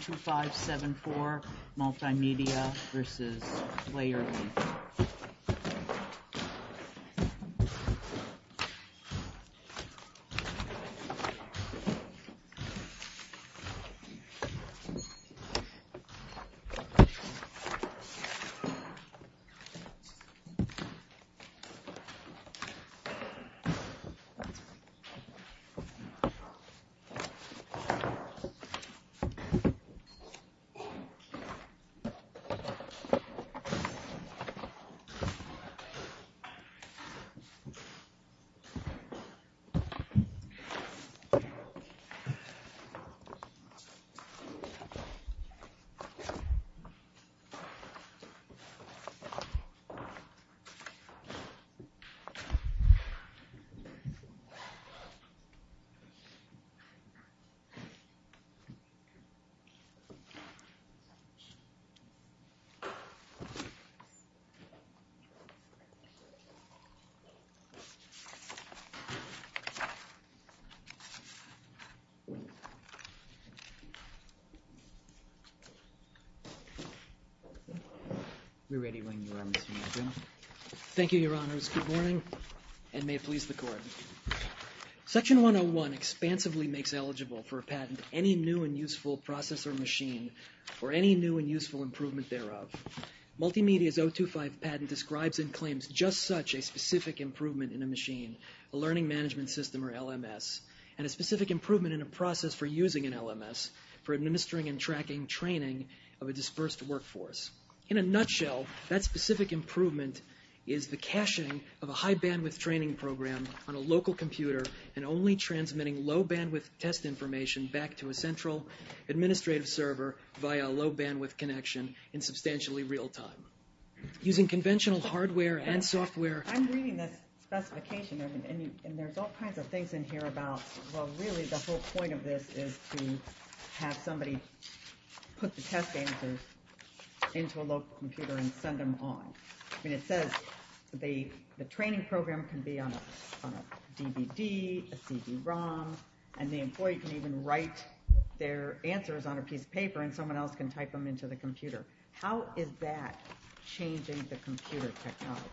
2574 Multimedia v. Playerlync Thank you, Your Honors. Good morning, and may it please the Court. Section 101 expansively makes eligible for a patent any new and useful process or machine, or any new and useful improvement thereof. Multimedia's 025 patent describes and claims just such a specific improvement in a machine, a learning management system, or LMS, and a specific improvement in a process for using an LMS for administering and tracking training of a dispersed workforce. In a nutshell, that specific improvement is the caching of a high and only transmitting low-bandwidth test information back to a central administrative server via a low-bandwidth connection in substantially real-time. Using conventional hardware and software... I'm reading this specification, and there's all kinds of things in here about, well, really the whole point of this is to have somebody put the test answers into a local computer and send them on. I mean, it says the training program can be on a DVD, a CD-ROM, and the employee can even write their answers on a piece of paper, and someone else can type them into the computer. How is that changing the computer technology?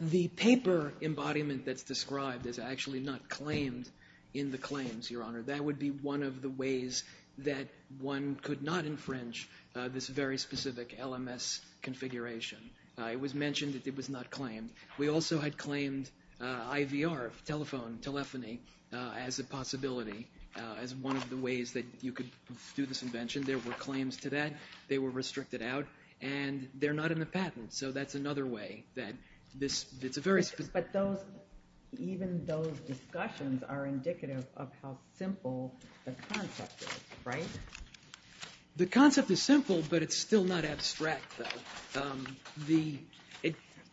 The paper embodiment that's described is actually not claimed in the claims, Your Honor. That would be one of the ways that one could not infringe this very specific LMS configuration. It was mentioned that it was not claimed. We also had claimed IVR, telephone telephony, as a possibility, as one of the ways that you could do this invention. There were claims to that. They were restricted out, and they're not in the patent, so that's another way that this... But even those discussions are indicative of how simple the concept is, right? The concept is simple, but it's still not abstract, though.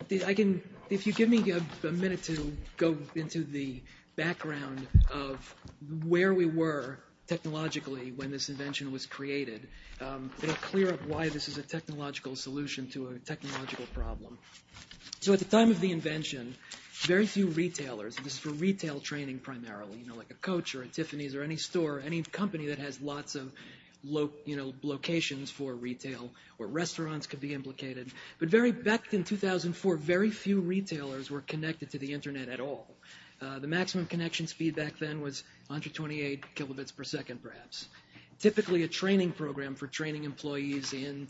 If you give me a minute to go into the background of where we were technologically when this invention was created, it'll clear up why this is a technological solution to a technological problem. So at the time of the invention, very few retailers, and this is for retail training primarily, like a Coach or a Tiffany's or any store, any company that has lots of locations for retail or restaurants could be implicated. But back in 2004, very few retailers were connected to the Internet at all. The maximum connection speed back then was 128 kilobits per second, perhaps. Typically, a training program for training employees in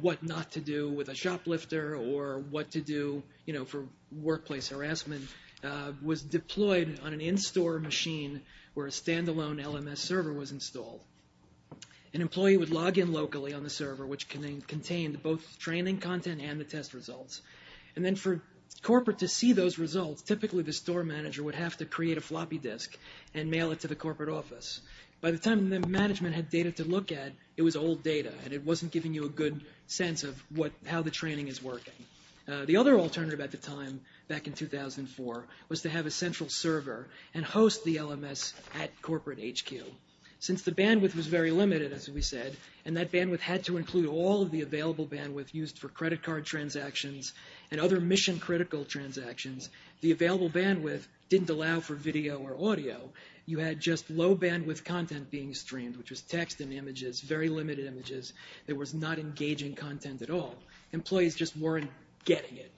what not to do with a shoplifter or what to do for workplace harassment was deployed on an in-store machine where a standalone LMS server was installed. An employee would log in locally on the server, which contained both training content and the test results. And then for corporate to see those results, typically the store manager would have to create a floppy disk and mail it to the corporate office. By the time the management had data to look at, it was old data, and it wasn't giving you a good sense of how the training is working. The other alternative at the time, back in 2004, was to have a central server and host the LMS at corporate HQ. Since the bandwidth was very limited, as we said, and that bandwidth had to include all of the available bandwidth used for credit card transactions and other mission-critical transactions, the available bandwidth didn't allow for video or audio. You had just low bandwidth content being streamed, which was text and images, very limited images. There was not engaging content at all. Employees just weren't getting it.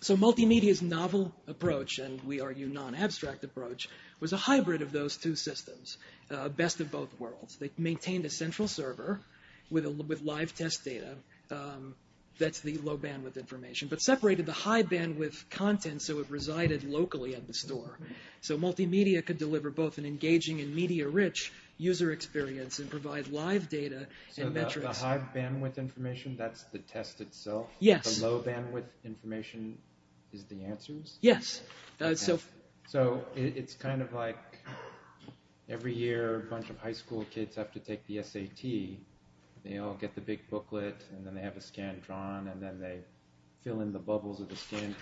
So Multimedia's novel approach, and we argue non-abstract approach, was a hybrid of those two systems, best of both worlds. They maintained a central server with live test data, that's the low bandwidth information, but separated the high bandwidth content so it resided locally at the store. So Multimedia could deliver both an engaging and media-rich user experience and provide live data and metrics. So the high bandwidth information, that's the test itself? Yes. The low bandwidth information is the answers? Yes. So it's kind of like every year a bunch of high school kids have to take the SAT. They all get the big booklet and then they have a scan drawn and then they fill in the only the scan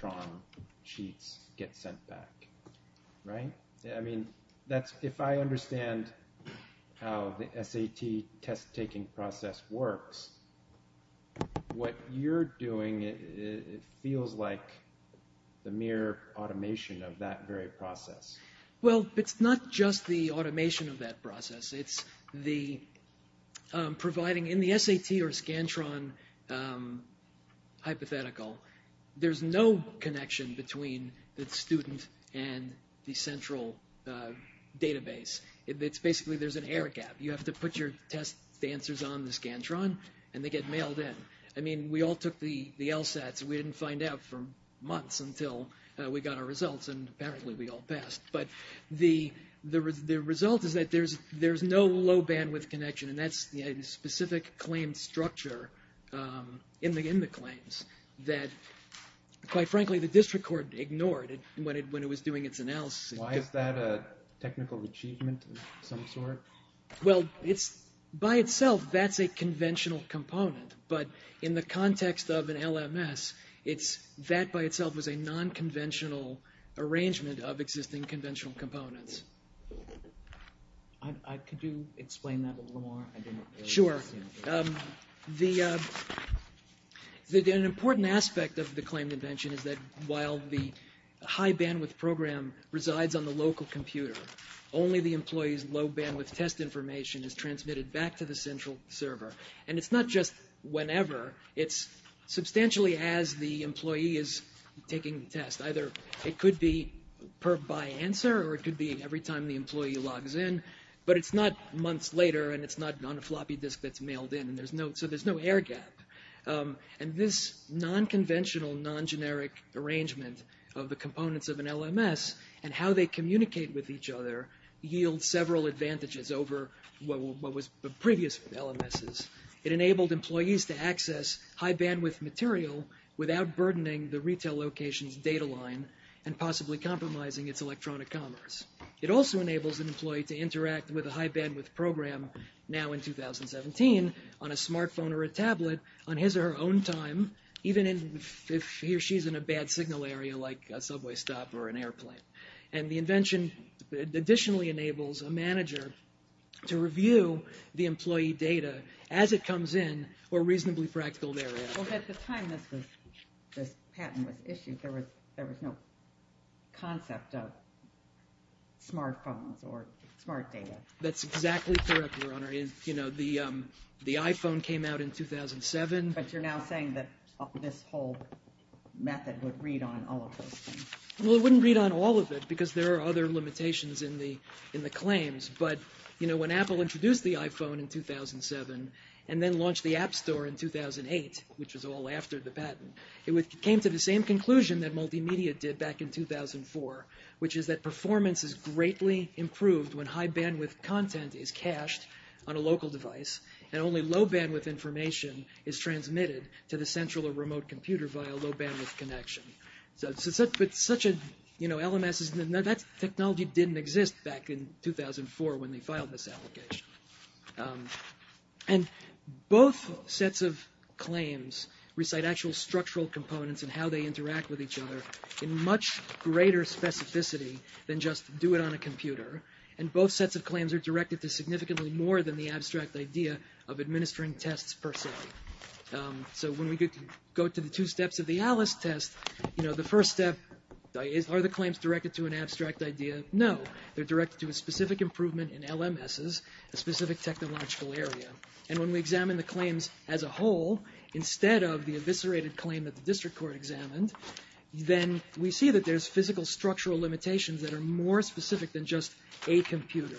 drawn sheets get sent back, right? I mean, that's, if I understand how the SAT test taking process works, what you're doing, it feels like the mere automation of that very process. Well, it's not just the automation of that process. It's the providing in the SAT or scan drawn hypothetical, there's no connection between the student and the central database. It's basically there's an air gap. You have to put your test answers on the scan drawn and they get mailed in. I mean, we all took the LSATs. We didn't find out for months until we got our results and apparently we all passed. But the result is that there's no low bandwidth connection and that's a specific claim structure in the claims that quite frankly, the district court ignored when it was doing its analysis. Why is that a technical achievement of some sort? Well, it's by itself, that's a conventional component. But in the context of an LMS, that by itself was a non-conventional arrangement of existing conventional components. Could you explain that a little more? Sure. An important aspect of the claim convention is that while the high bandwidth program resides on the local computer, only the employee's low bandwidth test information is transmitted back to the central server. And it's not just whenever, it's substantially as the employee is taking the test. Either it could be per by answer or it could be every time the employee logs in. But it's not months later and it's not on a floppy disk that's mailed in. So there's no air gap. And this non-conventional, non-generic arrangement of the components of an LMS and how they communicate with each other yields several advantages over what was previous LMSes. It enabled employees to access high bandwidth material without burdening the retail location's data line and possibly compromising its electronic commerce. It also enables an employee to interact with a high bandwidth program now in 2017 on a smartphone or a tablet on his or her own time, even if he or she is in a bad signal area like a subway stop or an airplane. And the invention additionally enables a manager to review the employee data as it comes in or reasonably fractal area. At the time this patent was issued, there was no concept of smartphones or smart data. That's exactly correct, Your Honor. The iPhone came out in 2007. But you're now saying that this whole method would read on all of those things. Well, it wouldn't read on all of it because there are other limitations in the claims. But when Apple introduced the iPhone in 2007 and then launched the App Store in 2008, which was all after the patent, it came to the same conclusion that multimedia did back in 2004, which is that performance is greatly improved when high bandwidth content is cached on a to the central or remote computer via a low bandwidth connection. But such a, you know, LMS, that technology didn't exist back in 2004 when they filed this application. And both sets of claims recite actual structural components and how they interact with each other in much greater specificity than just do it on a computer. And both sets of claims are directed to significantly more than the abstract idea of administering a test per se. So when we go to the two steps of the Alice test, you know, the first step are the claims directed to an abstract idea? No. They're directed to a specific improvement in LMSs, a specific technological area. And when we examine the claims as a whole, instead of the eviscerated claim that the district court examined, then we see that there's physical structural limitations that are more specific than just a computer.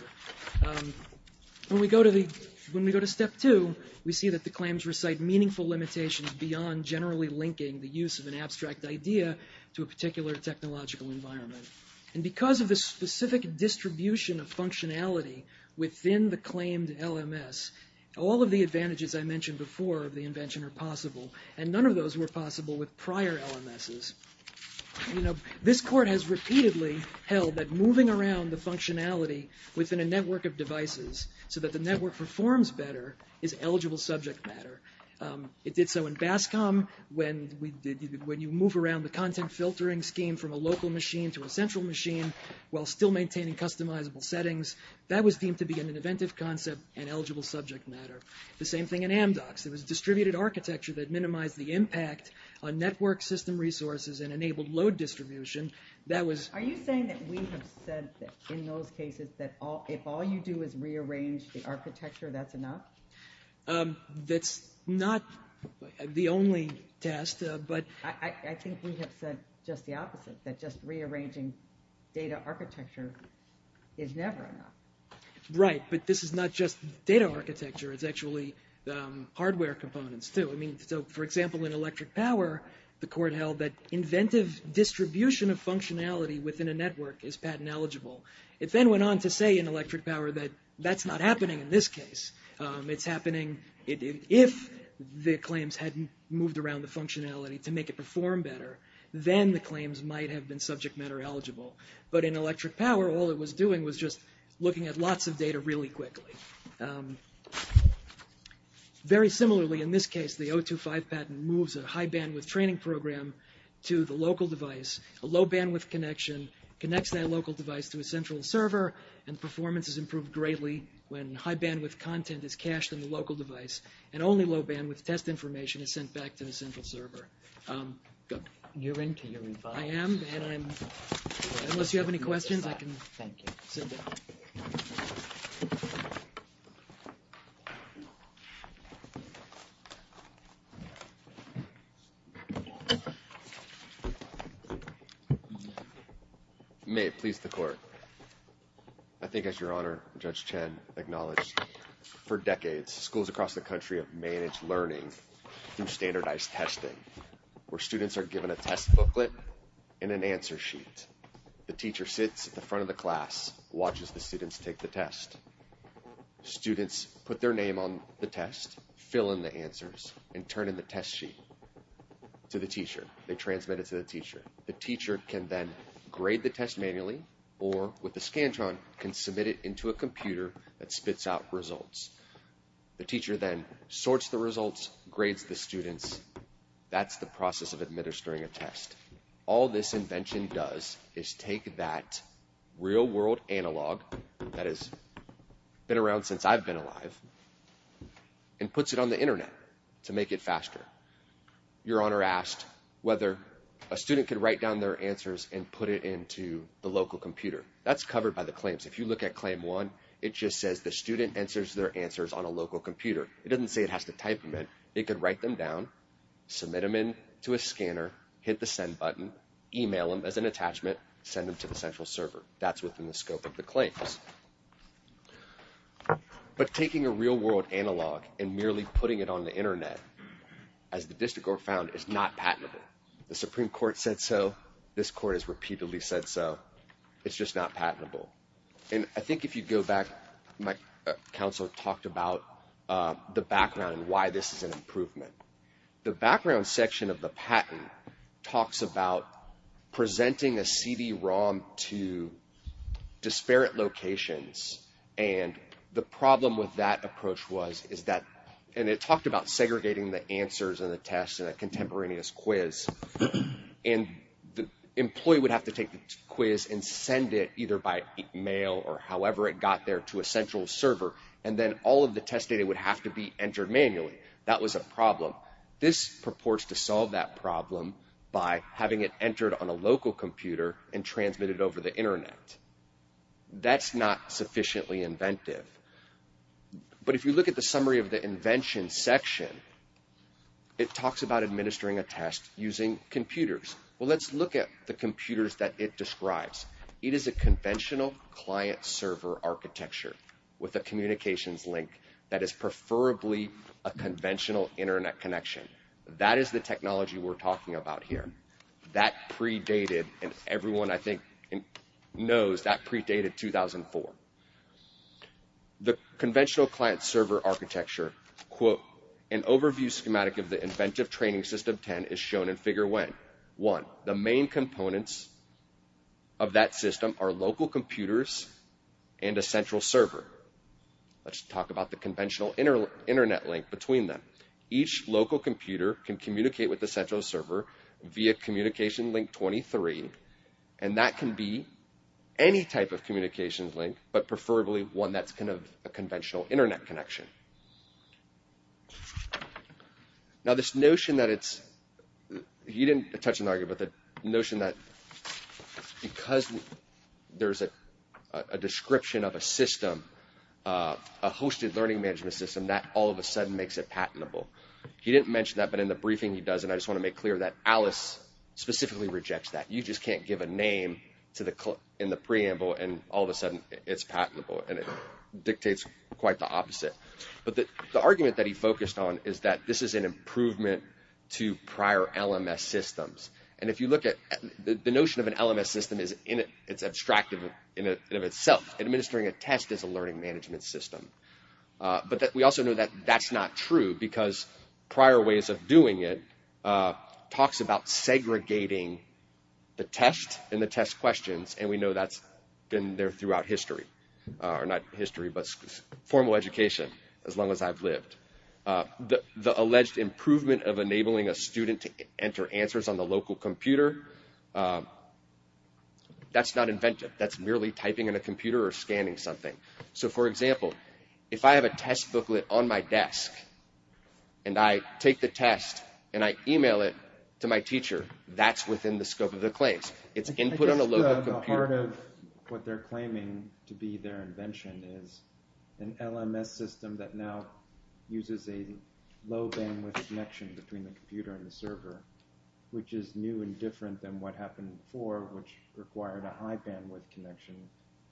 When we go to the, when we go to step two, we see that the claims recite meaningful limitations beyond generally linking the use of an abstract idea to a particular technological environment. And because of the specific distribution of functionality within the claimed LMS, all of the advantages I mentioned before of the invention are possible. And none of those were possible with prior LMSs. You know, this court has repeatedly held that moving around the functionality within a network of devices so that the network performs better is eligible subject matter. It did so in BASCOM when you move around the content filtering scheme from a local machine to a central machine while still maintaining customizable settings. That was deemed to be an inventive concept and eligible subject matter. The same thing in Amdocs. It was distributed architecture that minimized the impact on network system resources and enabled load distribution. That was... Are you saying that we have said in those cases that if all you do is rearrange the architecture, that's enough? That's not the only test, but... I think we have said just the opposite, that just rearranging data architecture is never enough. Right, but this is not just data architecture. It's actually hardware components, too. I the court held that inventive distribution of functionality within a network is patent eligible. It then went on to say in Electric Power that that's not happening in this case. It's happening if the claims hadn't moved around the functionality to make it perform better, then the claims might have been subject matter eligible. But in Electric Power, all it was doing was just looking at lots of data really quickly. Very similarly, in this case, the O2-5 patent moves a high-bandwidth training program to the local device. A low-bandwidth connection connects that local device to a central server and performance is improved greatly when high-bandwidth content is cached in the local device and only low-bandwidth test information is sent back to the central server. You're into your advice. I am, and I'm... Unless you have any questions, I can... Thank you. Sit down. May it please the court. I think as Your Honor, Judge Chen acknowledged, for decades, schools across the country have managed learning through standardized testing, where students are given a test booklet and an answer sheet. The teacher sits at the front of the class, watches the students take the test. Students put their name on the test, fill in the answers, and turn in the test sheet to the teacher. They transmit it to the teacher. The teacher can then grade the test manually or, with the Scantron, can submit it into a computer that spits out results. The teacher then sorts the results, grades the students. That's the analog that has been around since I've been alive, and puts it on the internet to make it faster. Your Honor asked whether a student could write down their answers and put it into the local computer. That's covered by the claims. If you look at Claim 1, it just says the student answers their answers on a local computer. It doesn't say it has to type them in. It could write them down, submit them in to a scanner, hit the send button, email them as an attachment, send them to the central server. That's within the scope of the claims. But taking a real-world analog and merely putting it on the internet, as the District Court found, is not patentable. The Supreme Court said so. This Court has repeatedly said so. It's just not patentable. And I think if you go back, my counsel talked about the background and why this is an improvement. The background section of the patent talks about presenting a CD-ROM to disparate locations. And the problem with that approach was, and it talked about segregating the answers and the tests in a contemporaneous quiz. And the employee would have to take the quiz and send it, either by email or however it got there, to a central server. And then all of the test data would have to be entered manually. That was a problem. This purports to solve that problem by having it entered on a local computer and transmitted over the internet. That's not sufficiently inventive. But if you look at the summary of the invention section, it talks about administering a test using computers. Well, let's look at the computers that it describes. It is a conventional client-server architecture with a communications link that is preferably a conventional internet connection. That is the technology we're talking about here. That predated, and everyone, I think, knows that predated 2004. The conventional client-server architecture, quote, an overview schematic of the inventive training system 10 is shown in figure 1. The main components of that are a computer and a central server. Let's talk about the conventional internet link between them. Each local computer can communicate with the central server via communication link 23. And that can be any type of communications link, but preferably one that's kind of a conventional internet connection. Now this notion that it's, he didn't touch an argument, but the notion that because there's a description of a system, a hosted learning management system, that all of a sudden makes it patentable. He didn't mention that, but in the briefing he does, and I just want to make clear that Alice specifically rejects that. You just can't give a name in the preamble, and all of a sudden it's patentable, and it dictates quite the opposite. But the argument that he focused on is that this is an improvement to prior LMS systems. And if you look at the notion of an LMS system, it's abstract in and of itself. Administering a test is a learning management system. But we also know that that's not true, because prior ways of doing it talks about segregating the test and the test questions, and we know that's been there throughout history. Or not history, but formal education, as long as I've lived. The alleged improvement of enabling a student to enter answers on the local computer, that's not inventive. That's merely typing in a computer or scanning something. So for example, if I have a test booklet on my desk, and I take the test and I email it to my teacher, that's within the scope of the claims. It's input on a local computer. Part of what they're claiming to be their invention is an LMS system that now uses a low bandwidth connection between the computer and the server, which is new and different than what happened before, which required a high bandwidth connection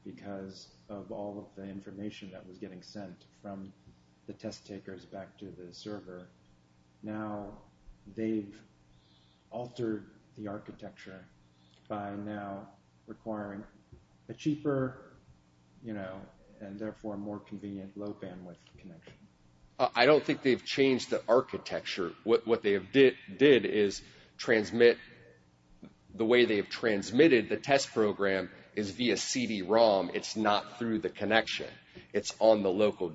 because of all of the information that was getting sent from the test takers back to the server. Now they've altered the architecture by now requiring a cheaper and therefore more convenient low bandwidth connection. I don't think they've changed the architecture. What they did is transmit the way they've transmitted the test program is via CD-ROM. It's not through the connection. It's on the server,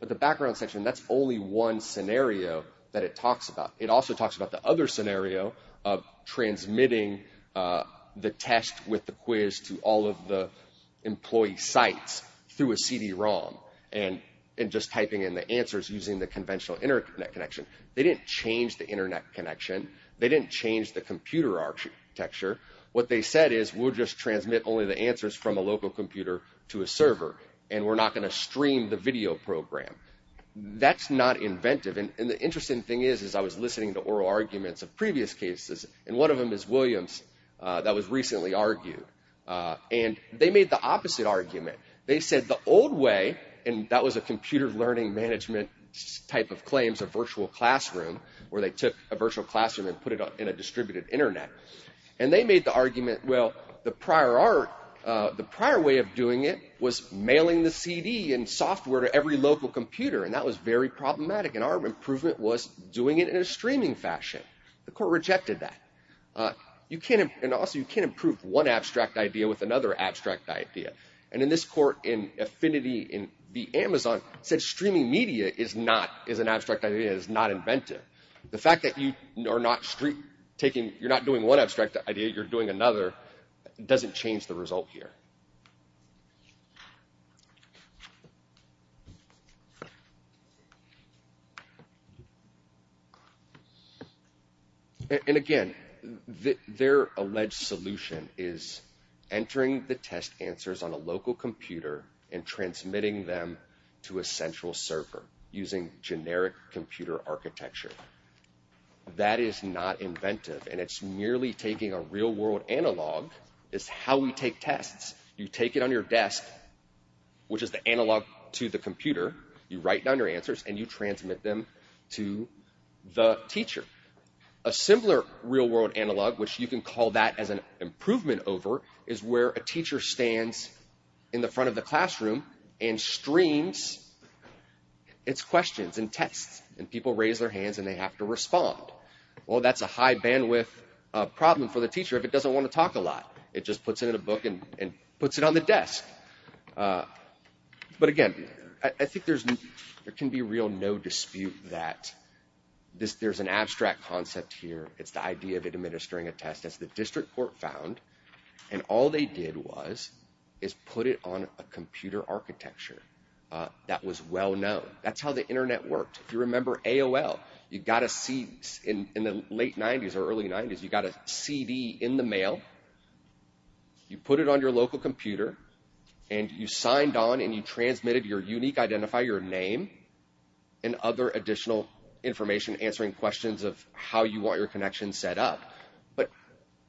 but the background section, that's only one scenario that it talks about. It also talks about the other scenario of transmitting the test with the quiz to all of the employee sites through a CD-ROM and just typing in the answers using the conventional internet connection. They didn't change the internet connection. They didn't change the computer architecture. What they said is, we'll just transmit only the answers from a local computer to a server, and we're not going to stream the video program. That's not inventive. The interesting thing is I was listening to oral arguments of previous cases, and one of them is Williams that was recently argued. They made the opposite argument. They said the old way, and that was a computer learning management type of claims, a virtual classroom, where they took a virtual classroom and put it in a distributed internet. They made the argument, well, the prior way of doing it was mailing the CD and software to every local computer, and that was very problematic, and our improvement was doing it in a streaming fashion. The court rejected that. Also, you can't improve one abstract idea with another abstract idea. In this court, Affinity in the Amazon said streaming media is an abstract idea. It's not inventive. The fact that you're not doing one abstract idea, you're doing another, doesn't change the result here. Again, their alleged solution is entering the test answers on a local computer and transmitting them to a central server using generic computer architecture. That is not inventive, and it's merely taking a real-world analog. It's how we take tests. You take it on your desk, which is the analog to the computer. You write down your answers, and you transmit them to the teacher. A simpler real-world analog, which you can call that as an improvement over, is where a teacher stands in the front of the classroom and streams its questions and tests, and people raise their hands, and they have to respond. Well, that's a high-bandwidth problem for the teacher if it doesn't want to talk a lot. It just puts it in a book and puts it on the desk. But again, I think there can be no dispute that there's an abstract concept here. It's the idea of administering a test. That's the district court found, and all they did was put it on a computer architecture that was well-known. That's how the Internet worked. If you remember AOL, you got a CD in the late 90s or early 90s. You got a CD in the mail. You put it on your local computer, and you signed on, and you transmitted your unique identifier, your name, and other additional information answering questions of how you want your connection set up. But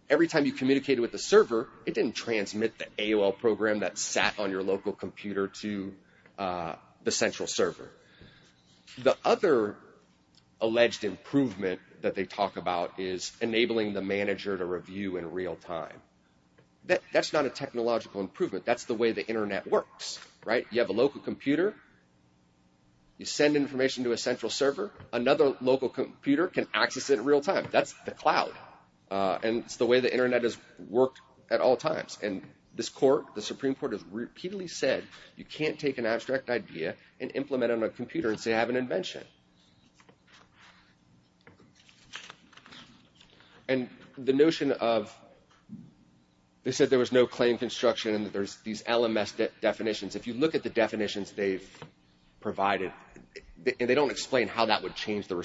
every time you communicated with the server, it didn't transmit the AOL program that sat on your local computer to the central server. The other alleged improvement that they talk about is enabling the manager to review in real time. That's not a technological improvement. That's the way the Internet works. You have a local computer. You send information to a central server. Another local computer can access it in real time. That's the cloud, and it's the way the Internet has worked at all times. And this court, the Supreme Court, has repeatedly said you can't take an abstract idea and implement it on a computer and say I have an invention. And the notion of, they said there was no claim construction and that there's these LMS definitions. If you look at the definitions they've provided, and they don't explain how that would change the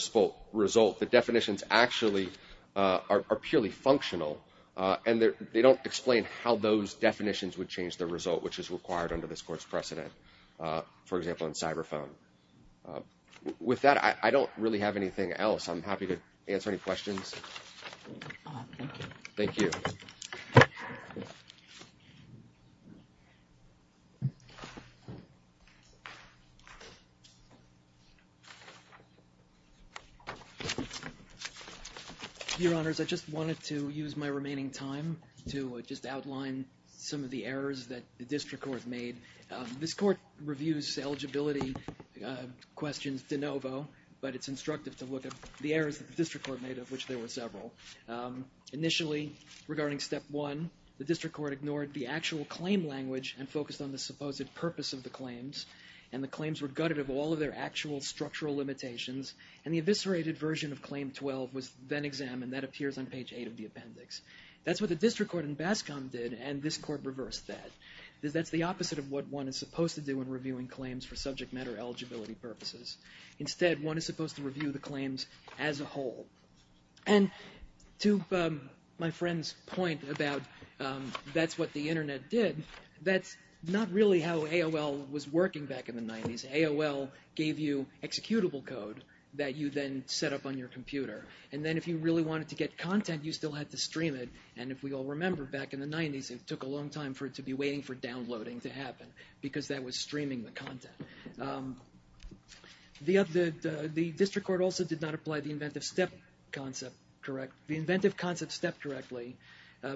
result, the definitions actually are purely functional, and they don't explain how those definitions would change the result, which is required under this court's precedent, for example, in cyber phone. With that, I don't really have anything else. I'm happy to answer any questions. Thank you. Your Honors, I just wanted to use my remaining time to just outline some of the errors that the district court made. This court reviews eligibility questions de novo, but it's instructive to look at the errors that the district court made, of which there were several. Initially, regarding step one, the district court ignored the actual claim language and focused on the supposed purpose of the claims, and the claims were gutted of all of their actual structural limitations, and the eviscerated version of claim 12 was then examined. That appears on page 8 of the appendix. That's what the district court in Bascom did, and this court reversed that. That's the opposite of what one is supposed to do when reviewing claims for subject matter eligibility purposes. Instead, one is supposed to review the claims as a whole. And to my friend's point about that's what the Internet did, that's not really how AOL was working back in the 90s. AOL gave you executable code that you then set up on your computer, and then if you really wanted to get content, you still had to stream it, and if we all remember back in the 90s, it took a long time for it to be waiting for downloading to happen, because that was streaming the content. The district court also did not apply the inventive concept step correctly,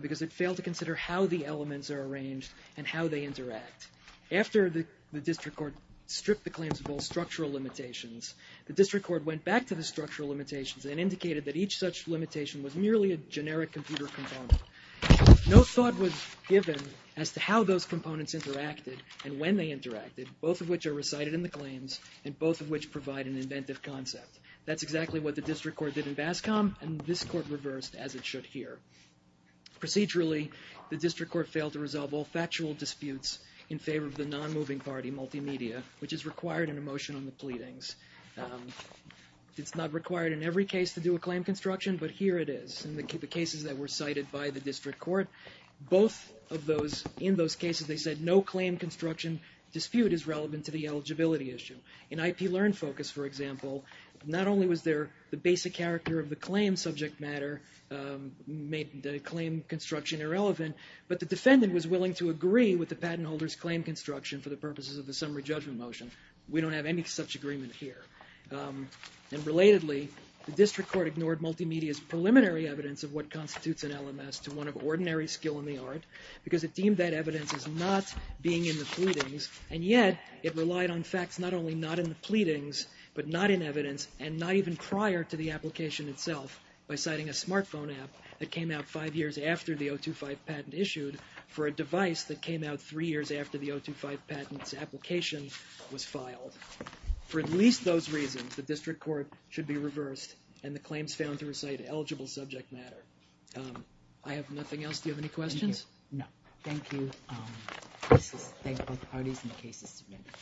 because it failed to consider how the elements are arranged and how they interact. After the district court stripped the claims of all structural limitations, the district court went back to the structural limitations and indicated that each such limitation was merely a generic computer component. No thought was given as to how those components interacted and when they interacted, both of which are recited in the claims, and both of which provide an inventive concept. That's exactly what the district court did in Bascom, and this court reversed as it should here. Procedurally, the district court failed to resolve all factual disputes in favor of the non-moving party multimedia, which is required in a motion on the pleadings. It's not required in every case to do a claim construction, but here it is. In the cases that were cited by the district court, both of those, in those cases, they said no claim construction dispute is relevant to the eligibility issue. In IP Learn Focus, for example, not only was the basic character of the claim subject matter made the claim construction irrelevant, but the defendant was willing to agree with the patent holder's claim construction for the purposes of the summary judgment motion. We don't have any such agreement here. And relatedly, the district court ignored multimedia's preliminary evidence of what constitutes an LMS to one of ordinary skill in the art because it deemed that evidence as not being in the pleadings, and yet it relied on facts not only not in the pleadings but not in evidence and not even prior to the application itself by citing a smartphone app that came out five years after the 025 patent issued for a device that came out three years after the 025 patent's application was filed. For at least those reasons, the district court should be reversed and the claims found to recite eligible subject matter. I have nothing else. Do you have any questions? No. Thank you. Thank both parties and the cases submitted.